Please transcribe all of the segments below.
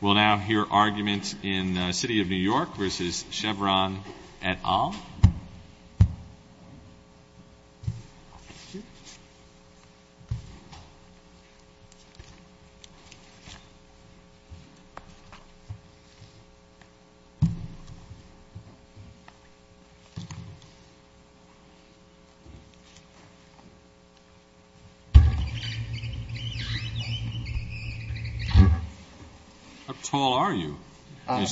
We'll now hear arguments in City of New York v. Chevron et al. The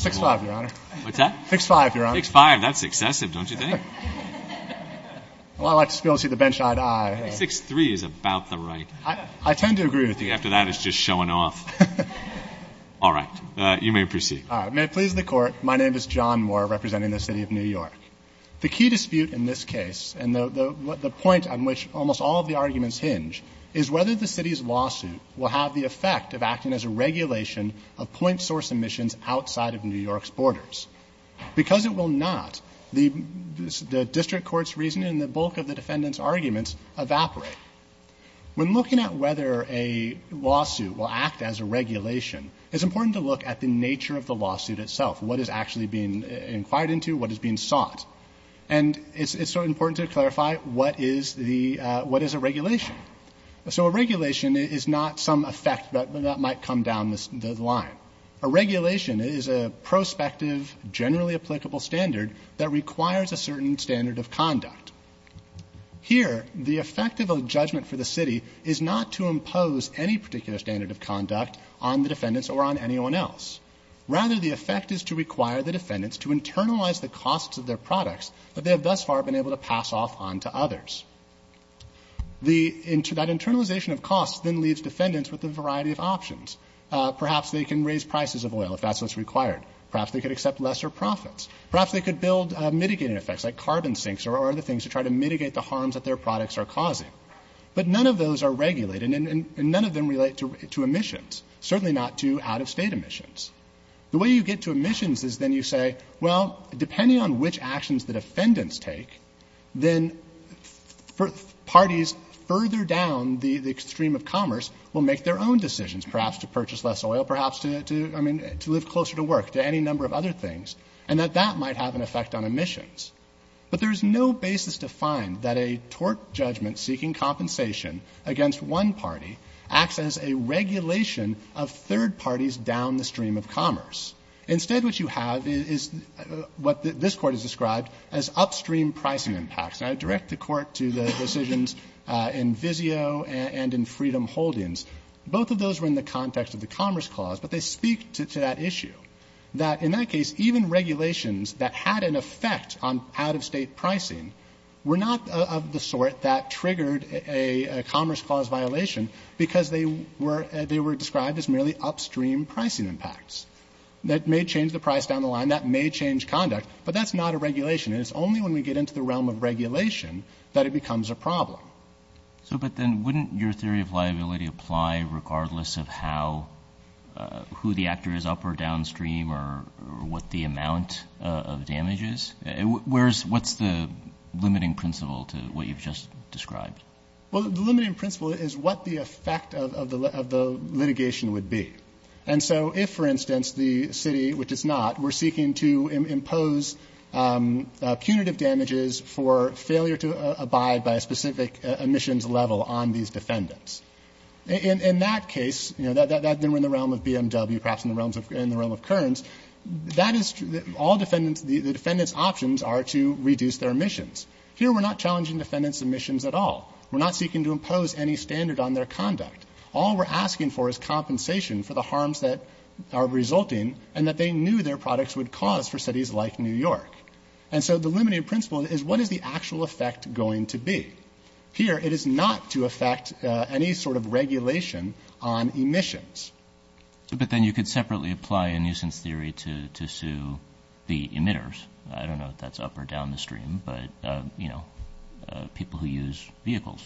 key dispute in this case, and the point on which almost all of the arguments hinge, is whether the City's lawsuit will have the effect of acting as a regulation of point source emissions outside of New York's borders. Because it will not, the District Court's reasoning and the bulk of the defendant's arguments evaporate. When looking at whether a lawsuit will act as a regulation, it's important to look at the nature of the lawsuit itself, what is actually being inquired into, what is being sought. And it's important to clarify what is a regulation. So a regulation is not some effect that might come down the line. A regulation is a prospective, generally applicable standard that requires a certain standard of conduct. Here, the effect of a judgment for the City is not to impose any particular standard of conduct on the defendants or on anyone else. Rather, the effect is to require the defendants to internalize the costs of their products that they have thus far been able to pass off on to others. That internalization of costs then leaves defendants with a variety of options. Perhaps they can raise prices of oil if that's what's required. Perhaps they could accept lesser profits. Perhaps they could build mitigating effects like carbon sinks or other things to try to mitigate the harms that their products are causing. But none of those are regulated, and none of them relate to emissions, certainly not to out-of-state emissions. The way you get to emissions is then you say, well, depending on which actions the defendants take, then parties further down the extreme of commerce will make their own decisions, perhaps to purchase less oil, perhaps to live closer to work, to any number of other things, and that that might have an effect on emissions. But there is no basis to find that a tort judgment seeking compensation against one party acts as a regulation of third parties down the stream of commerce. Instead, what you have is what this Court has described as upstream pricing impacts. And I direct the Court to the decisions in Vizio and in Freedom Holdings. Both of those were in the context of the Commerce Clause, but they speak to that issue, that in that case even regulations that had an effect on out-of-state pricing were not of the sort that triggered a Commerce Clause violation because they were described as merely upstream pricing impacts. That may change the price down the line. That may change conduct, but that's not a regulation. And it's only when we get into the realm of regulation that it becomes a problem. So but then wouldn't your theory of liability apply regardless of who the actor is up or downstream or what the amount of damage is? What's the limiting principle to what you've just described? Well, the limiting principle is what the effect of the litigation would be. And so if, for instance, the city, which it's not, were seeking to impose punitive damages for failure to abide by a specific emissions level on these defendants, in that case, you know, that then we're in the realm of BMW, perhaps in the realm of Kearns, that is all defendants, the defendants' options are to reduce their emissions. Here we're not challenging defendants' emissions at all. We're not seeking to impose any standard on their conduct. All we're asking for is compensation for the harms that are resulting and that they knew their products would cause for cities like New York. And so the limiting principle is what is the actual effect going to be? Here it is not to affect any sort of regulation on emissions. But then you could separately apply a nuisance theory to sue the emitters. I don't know if that's up or down the stream, but, you know, people who use vehicles.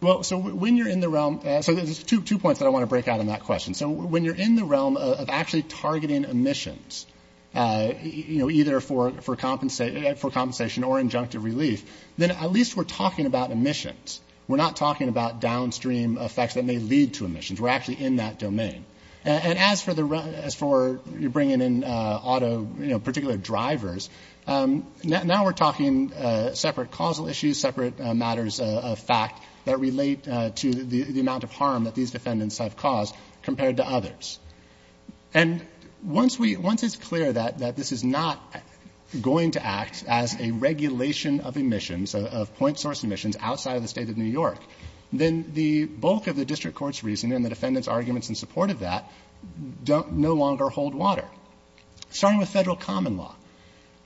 Well, so when you're in the realm, so there's two points that I want to break out on that question. So when you're in the realm of actually targeting emissions, you know, either for compensation or injunctive relief, then at least we're talking about emissions. We're not talking about downstream effects that may lead to emissions. We're actually in that domain. And as for you bringing in auto, you know, particular drivers, now we're talking separate causal issues, separate matters of fact that relate to the amount of harm that these defendants have caused compared to others. And once we — once it's clear that this is not going to act as a regulation of emissions, of point source emissions outside of the State of New York, then the bulk of the district court's reasoning and the defendants' arguments in support of that no longer hold water. Starting with federal common law.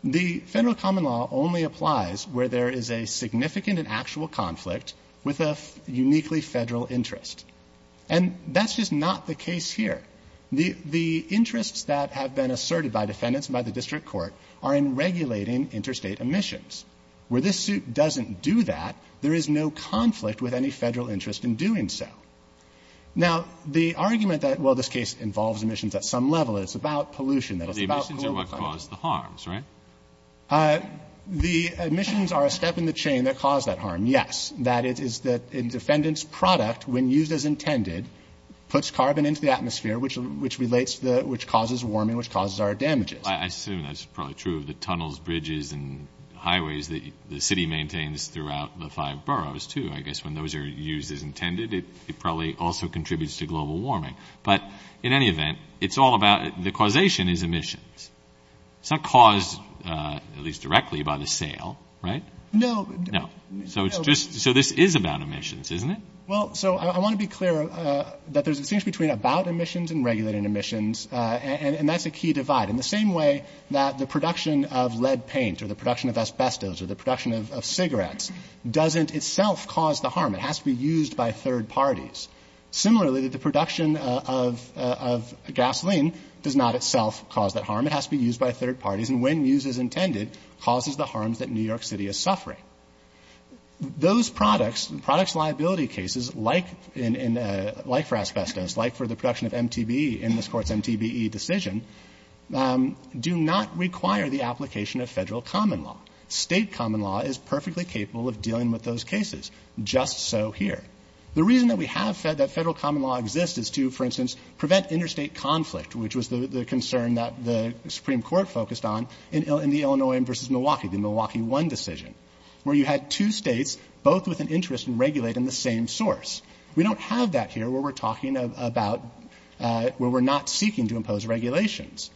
The federal common law only applies where there is a significant and actual conflict with a uniquely federal interest. And that's just not the case here. The interests that have been asserted by defendants and by the district court are in regulating interstate emissions. Where this suit doesn't do that, there is no conflict with any federal interest in doing so. Now, the argument that, well, this case involves emissions at some level, that it's about pollution, that it's about global warming. But the emissions are what cause the harms, right? The emissions are a step in the chain that cause that harm, yes. That is that a defendant's product, when used as intended, puts carbon into the atmosphere, which relates to the — which causes warming, which causes our damages. I assume that's probably true of the tunnels, bridges, and highways that the city maintains throughout the five boroughs, too. I guess when those are used as intended, it probably also contributes to global warming. But in any event, it's all about — the causation is emissions. It's not caused, at least directly, by the sale, right? No. No. So it's just — so this is about emissions, isn't it? Well, so I want to be clear that there's a distinction between about emissions and regulating emissions, and that's a key divide. In the same way that the production of lead paint or the production of asbestos or the production of cigarettes doesn't itself cause the harm. It has to be used by third parties. Similarly, the production of gasoline does not itself cause that harm. It has to be used by third parties. And when used as intended, causes the harms that New York City is suffering. Those products, products liability cases, like in — like for asbestos, like for the production of MTBE in this Court's MTBE decision, do not require the application of Federal common law. State common law is perfectly capable of dealing with those cases. Just so here. The reason that we have — that Federal common law exists is to, for instance, prevent interstate conflict, which was the concern that the Supreme Court focused on in the Illinois versus Milwaukee, the Milwaukee one decision, where you had two states both with an interest in regulating the same source. We don't have that here where we're talking about — where we're not seeking to impose regulations.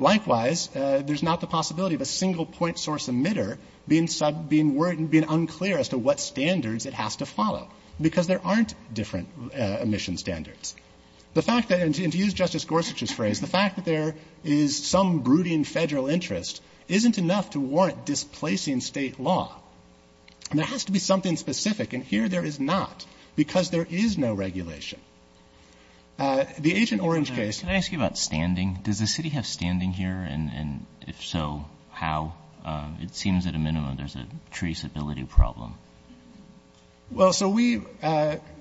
Likewise, there's not the possibility of a single point source emitter being unclear as to what standards it has to follow. Because there aren't different emission standards. The fact that — and to use Justice Gorsuch's phrase, the fact that there is some brooding Federal interest isn't enough to warrant displacing State law. And there has to be something specific. And here there is not, because there is no regulation. The Agent Orange case — Can I ask you about standing? Does the City have standing here? And if so, how? It seems at a minimum there's a traceability problem. Well, so we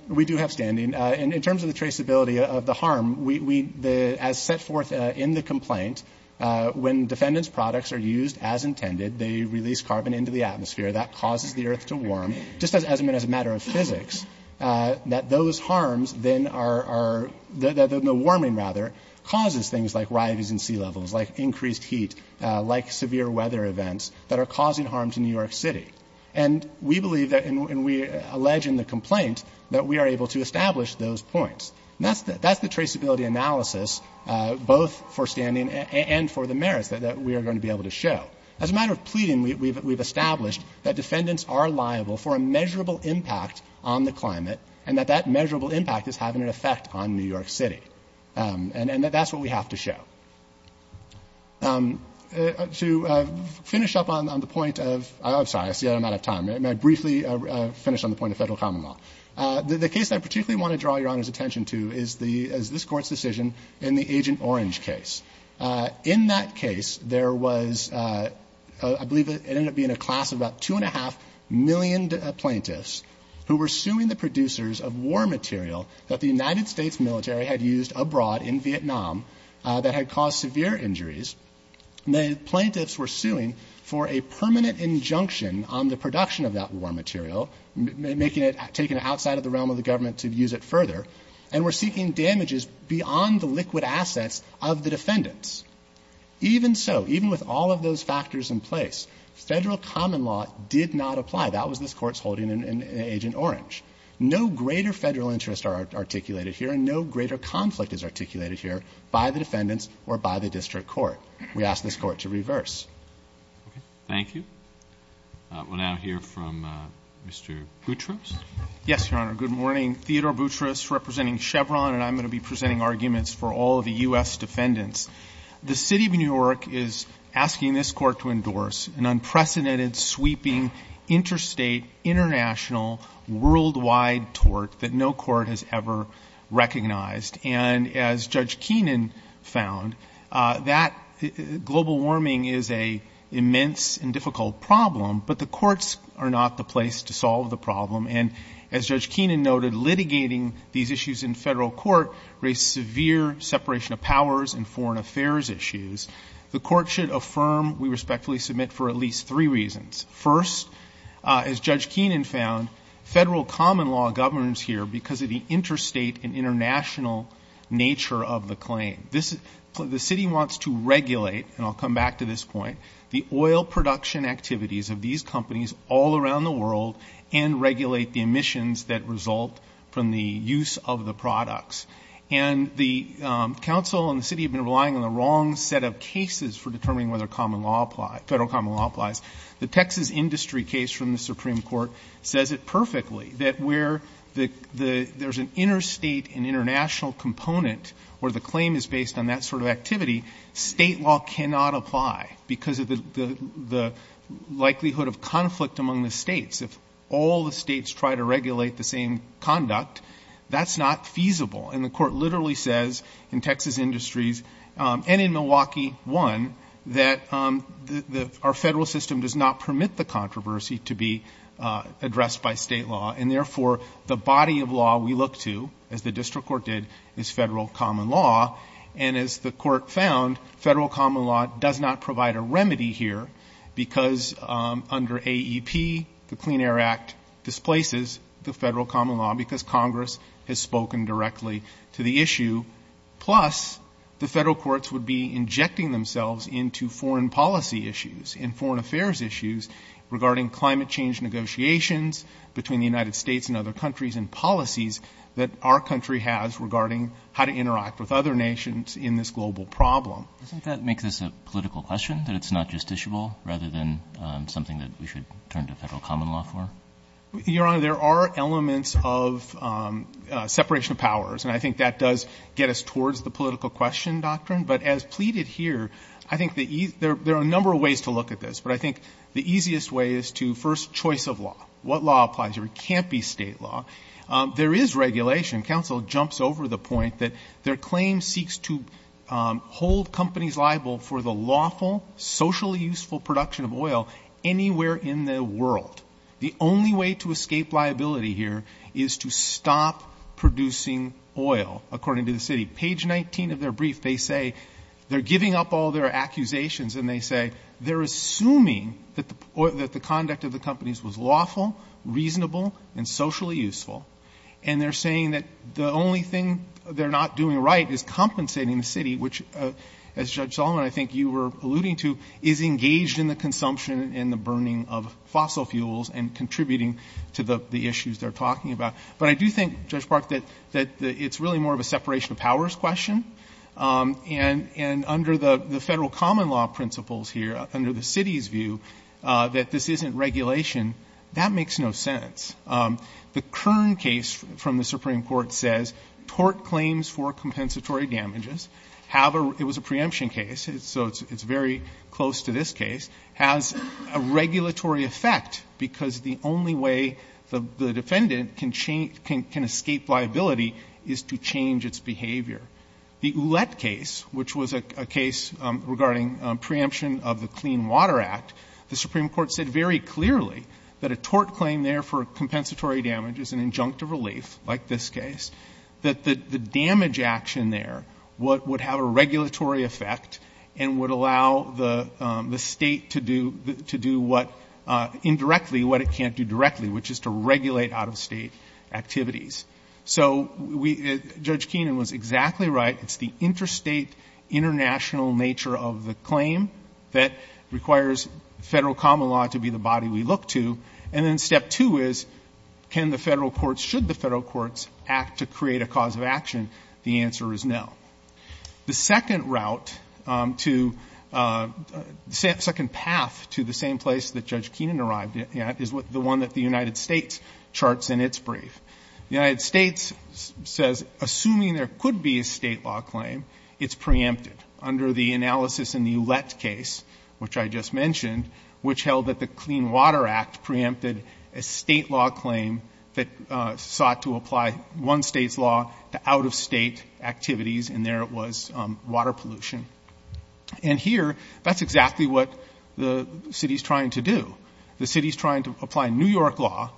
do have standing. In terms of the traceability of the harm, we — as set forth in the complaint, when defendant's products are used as intended, they release carbon into the atmosphere. That causes the earth to warm. Just as a matter of physics, that those harms then are — the warming, rather, causes things like rises in sea levels, like increased heat, like severe weather events that are causing harm to New York City. And we believe that — and we allege in the complaint that we are able to establish those points. And that's the traceability analysis, both for standing and for the merits that we are going to be able to show. As a matter of pleading, we've established that defendants are liable for a measurable impact on the climate and that that measurable impact is having an effect on New York City. And that's what we have to show. To finish up on the point of — I'm sorry. I see I'm out of time. May I briefly finish on the point of Federal common law? The case that I particularly want to draw Your Honor's attention to is the — is this Court's decision in the Agent Orange case. In that case, there was — I believe it ended up being a class of about two and a half million plaintiffs who were suing the producers of war material that the United States considered to cause severe injuries, and the plaintiffs were suing for a permanent injunction on the production of that war material, making it — taking it outside of the realm of the government to use it further, and were seeking damages beyond the liquid assets of the defendants. Even so, even with all of those factors in place, Federal common law did not apply. That was this Court's holding in Agent Orange. No greater Federal interests are articulated here, and no greater conflict is We ask this Court to reverse. Thank you. We'll now hear from Mr. Boutrous. Yes, Your Honor. Good morning. Theodore Boutrous representing Chevron, and I'm going to be presenting arguments for all of the U.S. defendants. The City of New York is asking this Court to endorse an unprecedented, sweeping, interstate, international, worldwide tort that no court has ever recognized. And as Judge Keenan found, that global warming is an immense and difficult problem, but the courts are not the place to solve the problem. And as Judge Keenan noted, litigating these issues in Federal court raised severe separation of powers and foreign affairs issues. The Court should affirm, we respectfully submit, for at least three reasons. First, as Judge Keenan found, Federal common law governs here because of the interstate and international nature of the claim. The City wants to regulate, and I'll come back to this point, the oil production activities of these companies all around the world and regulate the emissions that result from the use of the products. And the Council and the City have been relying on the wrong set of cases for determining whether Federal common law applies. The Texas industry case from the Supreme Court says it perfectly, that where there's an interstate and international component where the claim is based on that sort of activity, state law cannot apply because of the likelihood of conflict among the states. If all the states try to regulate the same conduct, that's not feasible. And the Court literally says in Texas industries and in Milwaukee, one, that our Federal system does not permit the controversy to be addressed by state law, and therefore the body of law we look to, as the District Court did, is Federal common law. And as the Court found, Federal common law does not provide a remedy here because under AEP, the Clean Air Act displaces the Federal common law because Congress has spoken directly to the issue. Plus, the Federal courts would be injecting themselves into foreign policy issues and foreign affairs issues regarding climate change negotiations between the United States and other countries and policies that our country has regarding how to interact with other nations in this global problem. Doesn't that make this a political question, that it's not justiciable, rather than something that we should turn to Federal common law for? Your Honor, there are elements of separation of powers, and I think that does get us towards the political question doctrine. But as pleaded here, I think there are a number of ways to look at this, but I think the easiest way is to, first, choice of law. What law applies here? It can't be state law. There is regulation. Counsel jumps over the point that their claim seeks to hold companies liable for the lawful, socially useful production of oil anywhere in the world. The only way to escape liability here is to stop producing oil, according to the city. Page 19 of their brief, they say they're giving up all their accusations, and they say they're assuming that the conduct of the companies was lawful, reasonable, and socially useful, and they're saying that the only thing they're not doing right is compensating the city, which, as Judge Solomon, I think you were alluding to, is engaged in the consumption and the burning of fossil fuels and contributing to the issues they're talking about. But I do think, Judge Park, that it's really more of a separation of powers question. And under the federal common law principles here, under the city's view, that this isn't regulation, that makes no sense. The Kern case from the Supreme Court says tort claims for compensatory damages have a, it was a preemption case, so it's very close to this case, has a regulatory effect because the only way the defendant can escape liability is to get out of state. The Ouellette case, which was a case regarding preemption of the Clean Water Act, the Supreme Court said very clearly that a tort claim there for compensatory damage is an injunctive relief, like this case, that the damage action there would have a regulatory effect and would allow the state to do what, indirectly, what it can't do directly, which is to regulate out-of-state activities. So we, Judge Keenan was exactly right, it's the interstate, international nature of the claim that requires federal common law to be the body we look to. And then step two is, can the federal courts, should the federal courts act to create a cause of action? The answer is no. The second route to, second path to the same place that Judge Keenan arrived at is the one that the United States charts in its brief. The United States says, assuming there could be a state law claim, it's preempted under the analysis in the Ouellette case, which I just mentioned, which held that the Clean Water Act preempted a state law claim that sought to apply one state's law to out-of-state activities, and there it was, water pollution. And here, that's exactly what the city's trying to do. The city's trying to apply New York law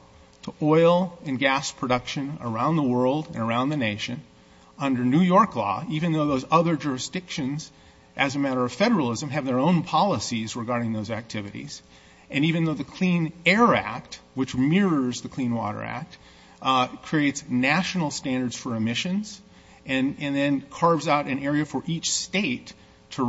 to oil and gas production around the world and around the nation under New York law, even though those other jurisdictions as a matter of federalism have their own policies regarding those activities. And even though the Clean Air Act, which mirrors the Clean Water Act, creates national standards for emissions and then carves out an area for each state to apply, New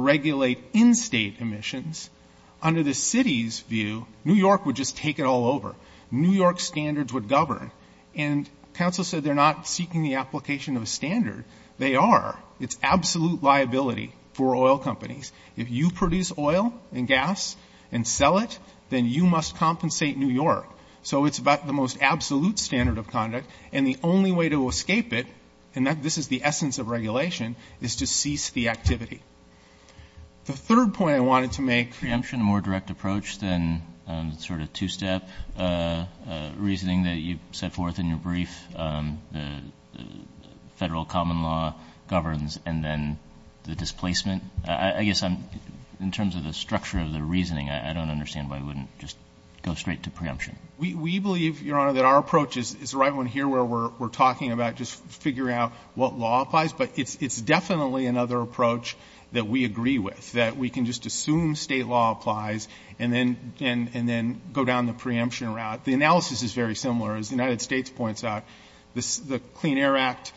York would just take it all over. New York standards would govern. And counsel said they're not seeking the application of a standard. They are. It's absolute liability for oil companies. If you produce oil and gas and sell it, then you must compensate New York. So it's about the most absolute standard of conduct. And the only way to escape it, and this is the essence of regulation, is to cease the activity. The third point I wanted to make. Roberts. Preemption, a more direct approach than sort of two-step reasoning that you set forth in your brief, the Federal common law governs and then the displacement. I guess in terms of the structure of the reasoning, I don't understand why you wouldn't just go straight to preemption. We believe, Your Honor, that our approach is the right one here where we're talking about just figuring out what law applies. But it's definitely another approach that we agree with, that we can just assume state law applies and then go down the preemption route. The analysis is very similar. As the United States points out, the Clean Air Act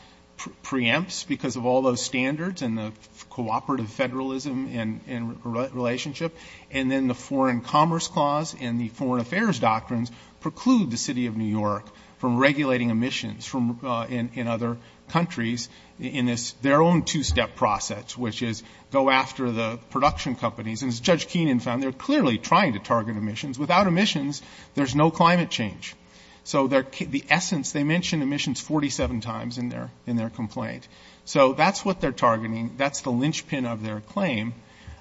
preempts because of all those standards and the cooperative federalism and relationship. And then the foreign commerce clause and the foreign affairs doctrines preclude the process, which is go after the production companies. And as Judge Keenan found, they're clearly trying to target emissions. Without emissions, there's no climate change. So the essence, they mention emissions 47 times in their complaint. So that's what they're targeting. That's the linchpin of their claim.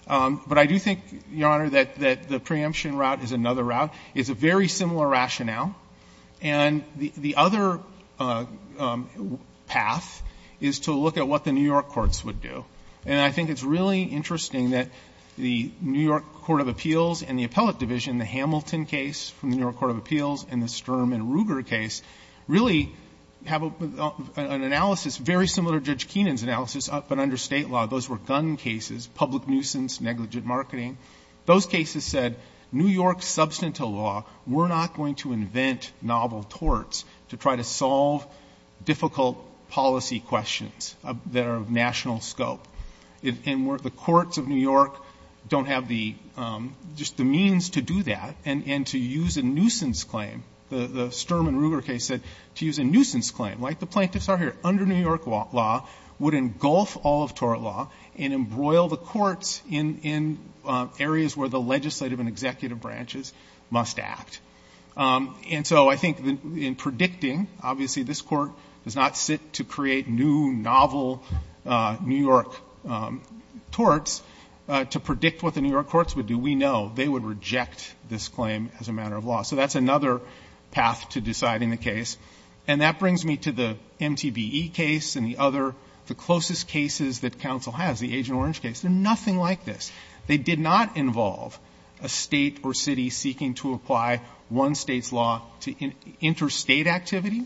But I do think, Your Honor, that the preemption route is another route. It's a very similar rationale. And the other path is to look at what the New York courts would do. And I think it's really interesting that the New York Court of Appeals and the appellate division, the Hamilton case from the New York Court of Appeals and the Sturm and Ruger case, really have an analysis very similar to Judge Keenan's analysis, but under state law. Those were gun cases, public nuisance, negligent marketing. Those cases said, New York's substantial law, we're not going to invent novel torts to try to solve difficult policy questions that are of national scope. And the courts of New York don't have the, just the means to do that and to use a nuisance claim. The Sturm and Ruger case said to use a nuisance claim, like the plaintiffs are here, under New York law, would engulf all of tort law and embroil the courts in areas where the legislative and executive branches must act. And so I think in predicting, obviously, this Court does not sit to create new novel New York torts to predict what the New York courts would do. We know they would reject this claim as a matter of law. So that's another path to deciding the case. And that brings me to the MTBE case and the other, the closest cases that counsel has, the Agent Orange case. They're nothing like this. They did not involve a state or city seeking to apply one state's law to interstate activity,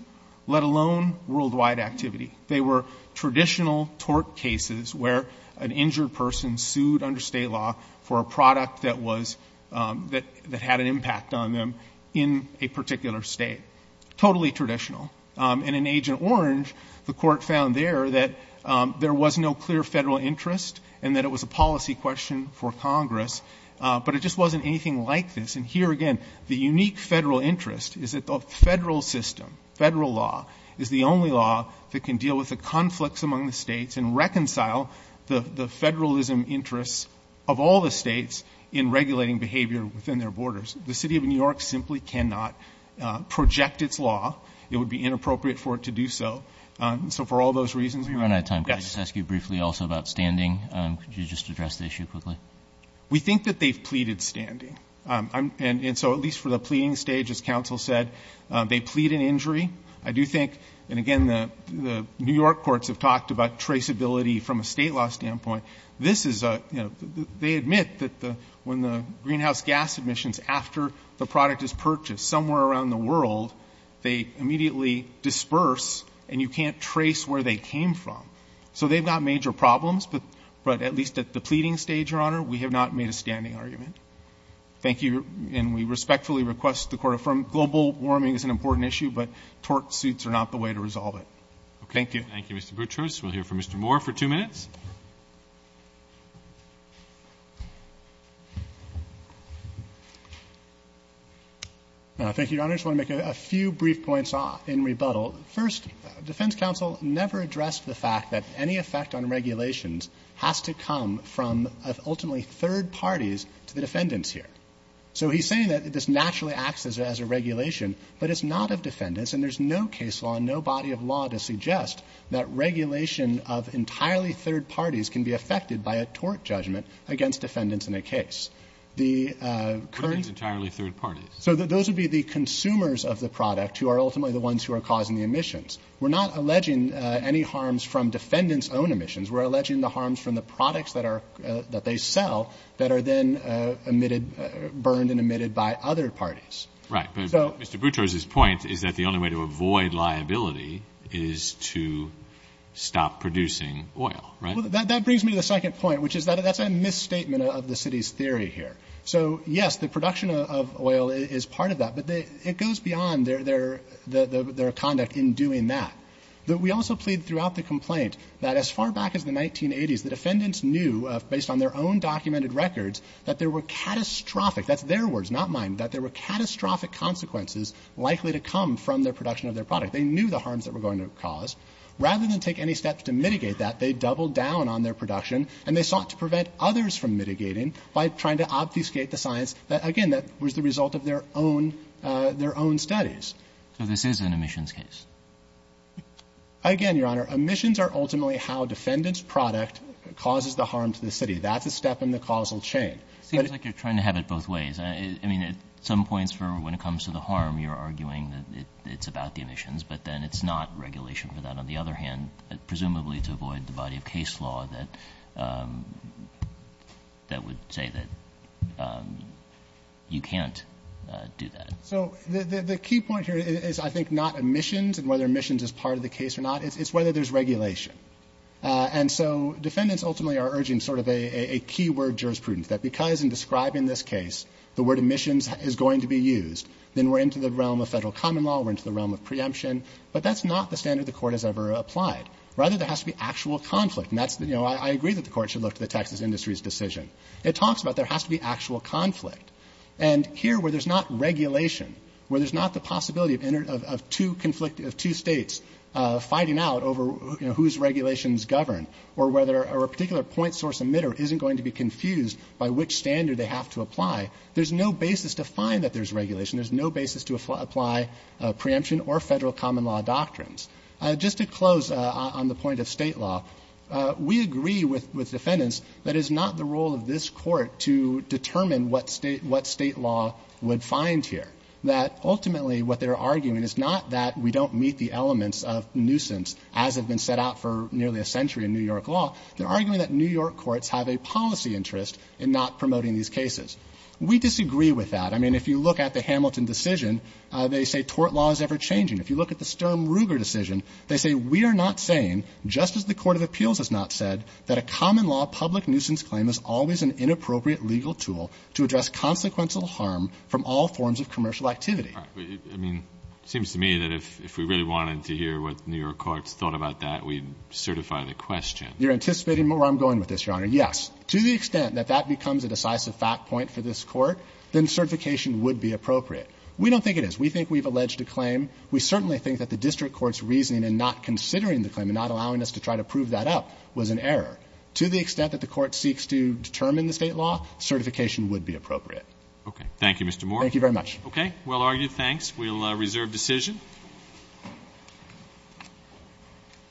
let alone worldwide activity. They were traditional tort cases where an injured person sued under state law for a product that was, that had an impact on them in a particular state. Totally traditional. And in Agent Orange, the Court found there that there was no clear federal interest and that it was a policy question for Congress. But it just wasn't anything like this. And here again, the unique federal interest is that the federal system, federal law, is the only law that can deal with the conflicts among the states and reconcile the federalism interests of all the states in regulating behavior within their borders. The City of New York simply cannot project its law. It would be inappropriate for it to do so. So for all those reasons, we run out of time. Can I just ask you briefly also about standing? Could you just address the issue quickly? We think that they've pleaded standing. And so at least for the pleading stage, as counsel said, they plead an injury. I do think, and again, the New York courts have talked about traceability from a state law standpoint. This is a, you know, they admit that when the greenhouse gas emissions, after the product is purchased somewhere around the world, they immediately disperse and you can't trace where they came from. So they've got major problems, but at least at the pleading stage, Your Honor, we have not made a standing argument. Thank you. And we respectfully request the Court affirm global warming is an important issue, but tort suits are not the way to resolve it. Thank you. Thank you, Mr. Boutrous. We'll hear from Mr. Moore for two minutes. Thank you, Your Honor. I just want to make a few brief points in rebuttal. First, defense counsel never addressed the fact that any effect on regulations has to come from ultimately third parties to the defendants here. So he's saying that this naturally acts as a regulation, but it's not of defendants, and there's no case law and no body of law to suggest that regulation of entirely third parties can be affected by a tort judgment against defendants in a case. The current What do you mean entirely third parties? So those would be the consumers of the product who are ultimately the ones who are causing the emissions. We're not alleging any harms from defendants' own emissions. We're alleging the harms from the products that they sell that are then emitted burned and emitted by other parties. Right. But Mr. Boutrous's point is that the only way to avoid liability is to stop producing oil, right? Well, that brings me to the second point, which is that that's a misstatement of the city's theory here. So, yes, the production of oil is part of that, but it goes beyond their conduct in doing that. We also plead throughout the complaint that as far back as the 1980s, the defendants knew, based on their own documented records, that there were catastrophic – that's their words, not mine – that there were catastrophic consequences likely to come from their production of their product. They knew the harms that were going to cause. Rather than take any steps to mitigate that, they doubled down on their production and they sought to prevent others from mitigating by trying to obfuscate the science that, again, that was the result of their own studies. So this is an emissions case? Again, Your Honor, emissions are ultimately how defendants' product causes the harm to the city. That's a step in the causal chain. It seems like you're trying to have it both ways. I mean, at some points when it comes to the harm, you're arguing that it's about the emissions, but then it's not regulation for that. On the other hand, presumably to avoid the body of case law that would say that you can't do that. So the key point here is, I think, not emissions and whether emissions is part of the case or not. It's whether there's regulation. And so defendants ultimately are urging sort of a key word jurisprudence, that because in describing this case the word emissions is going to be used, then we're into the realm of federal common law, we're into the realm of preemption. But that's not the standard the court has ever applied. Rather, there has to be actual conflict. And I agree that the court should look to the Texas industry's decision. It talks about there has to be actual conflict. And here where there's not regulation, where there's not the possibility of two states fighting out over whose regulations govern or whether a particular point source emitter isn't going to be confused by which standard they have to apply, there's no basis to find that there's regulation. There's no basis to apply preemption or federal common law doctrines. Just to close on the point of State law, we agree with defendants that it's not the role of this Court to determine what State law would find here, that ultimately what they're arguing is not that we don't meet the elements of nuisance as have been set out for nearly a century in New York law. They're arguing that New York courts have a policy interest in not promoting these cases. We disagree with that. I mean, if you look at the Hamilton decision, they say tort law is ever-changing. If you look at the Sturm-Ruger decision, they say we are not saying, just as the Court of Appeals has not said, that a common law public nuisance claim is always an inappropriate legal tool to address consequential harm from all forms of commercial activity. But, I mean, it seems to me that if we really wanted to hear what New York courts thought about that, we'd certify the question. You're anticipating where I'm going with this, Your Honor. Yes. To the extent that that becomes a decisive fact point for this Court, then certification would be appropriate. We don't think it is. We think we've alleged a claim. We certainly think that the district court's reasoning in not considering the claim and not allowing us to try to prove that up was an error. To the extent that the Court seeks to determine the State law, certification would be appropriate. Okay. Thank you, Mr. Moore. Thank you very much. Well argued. We'll reserve decision.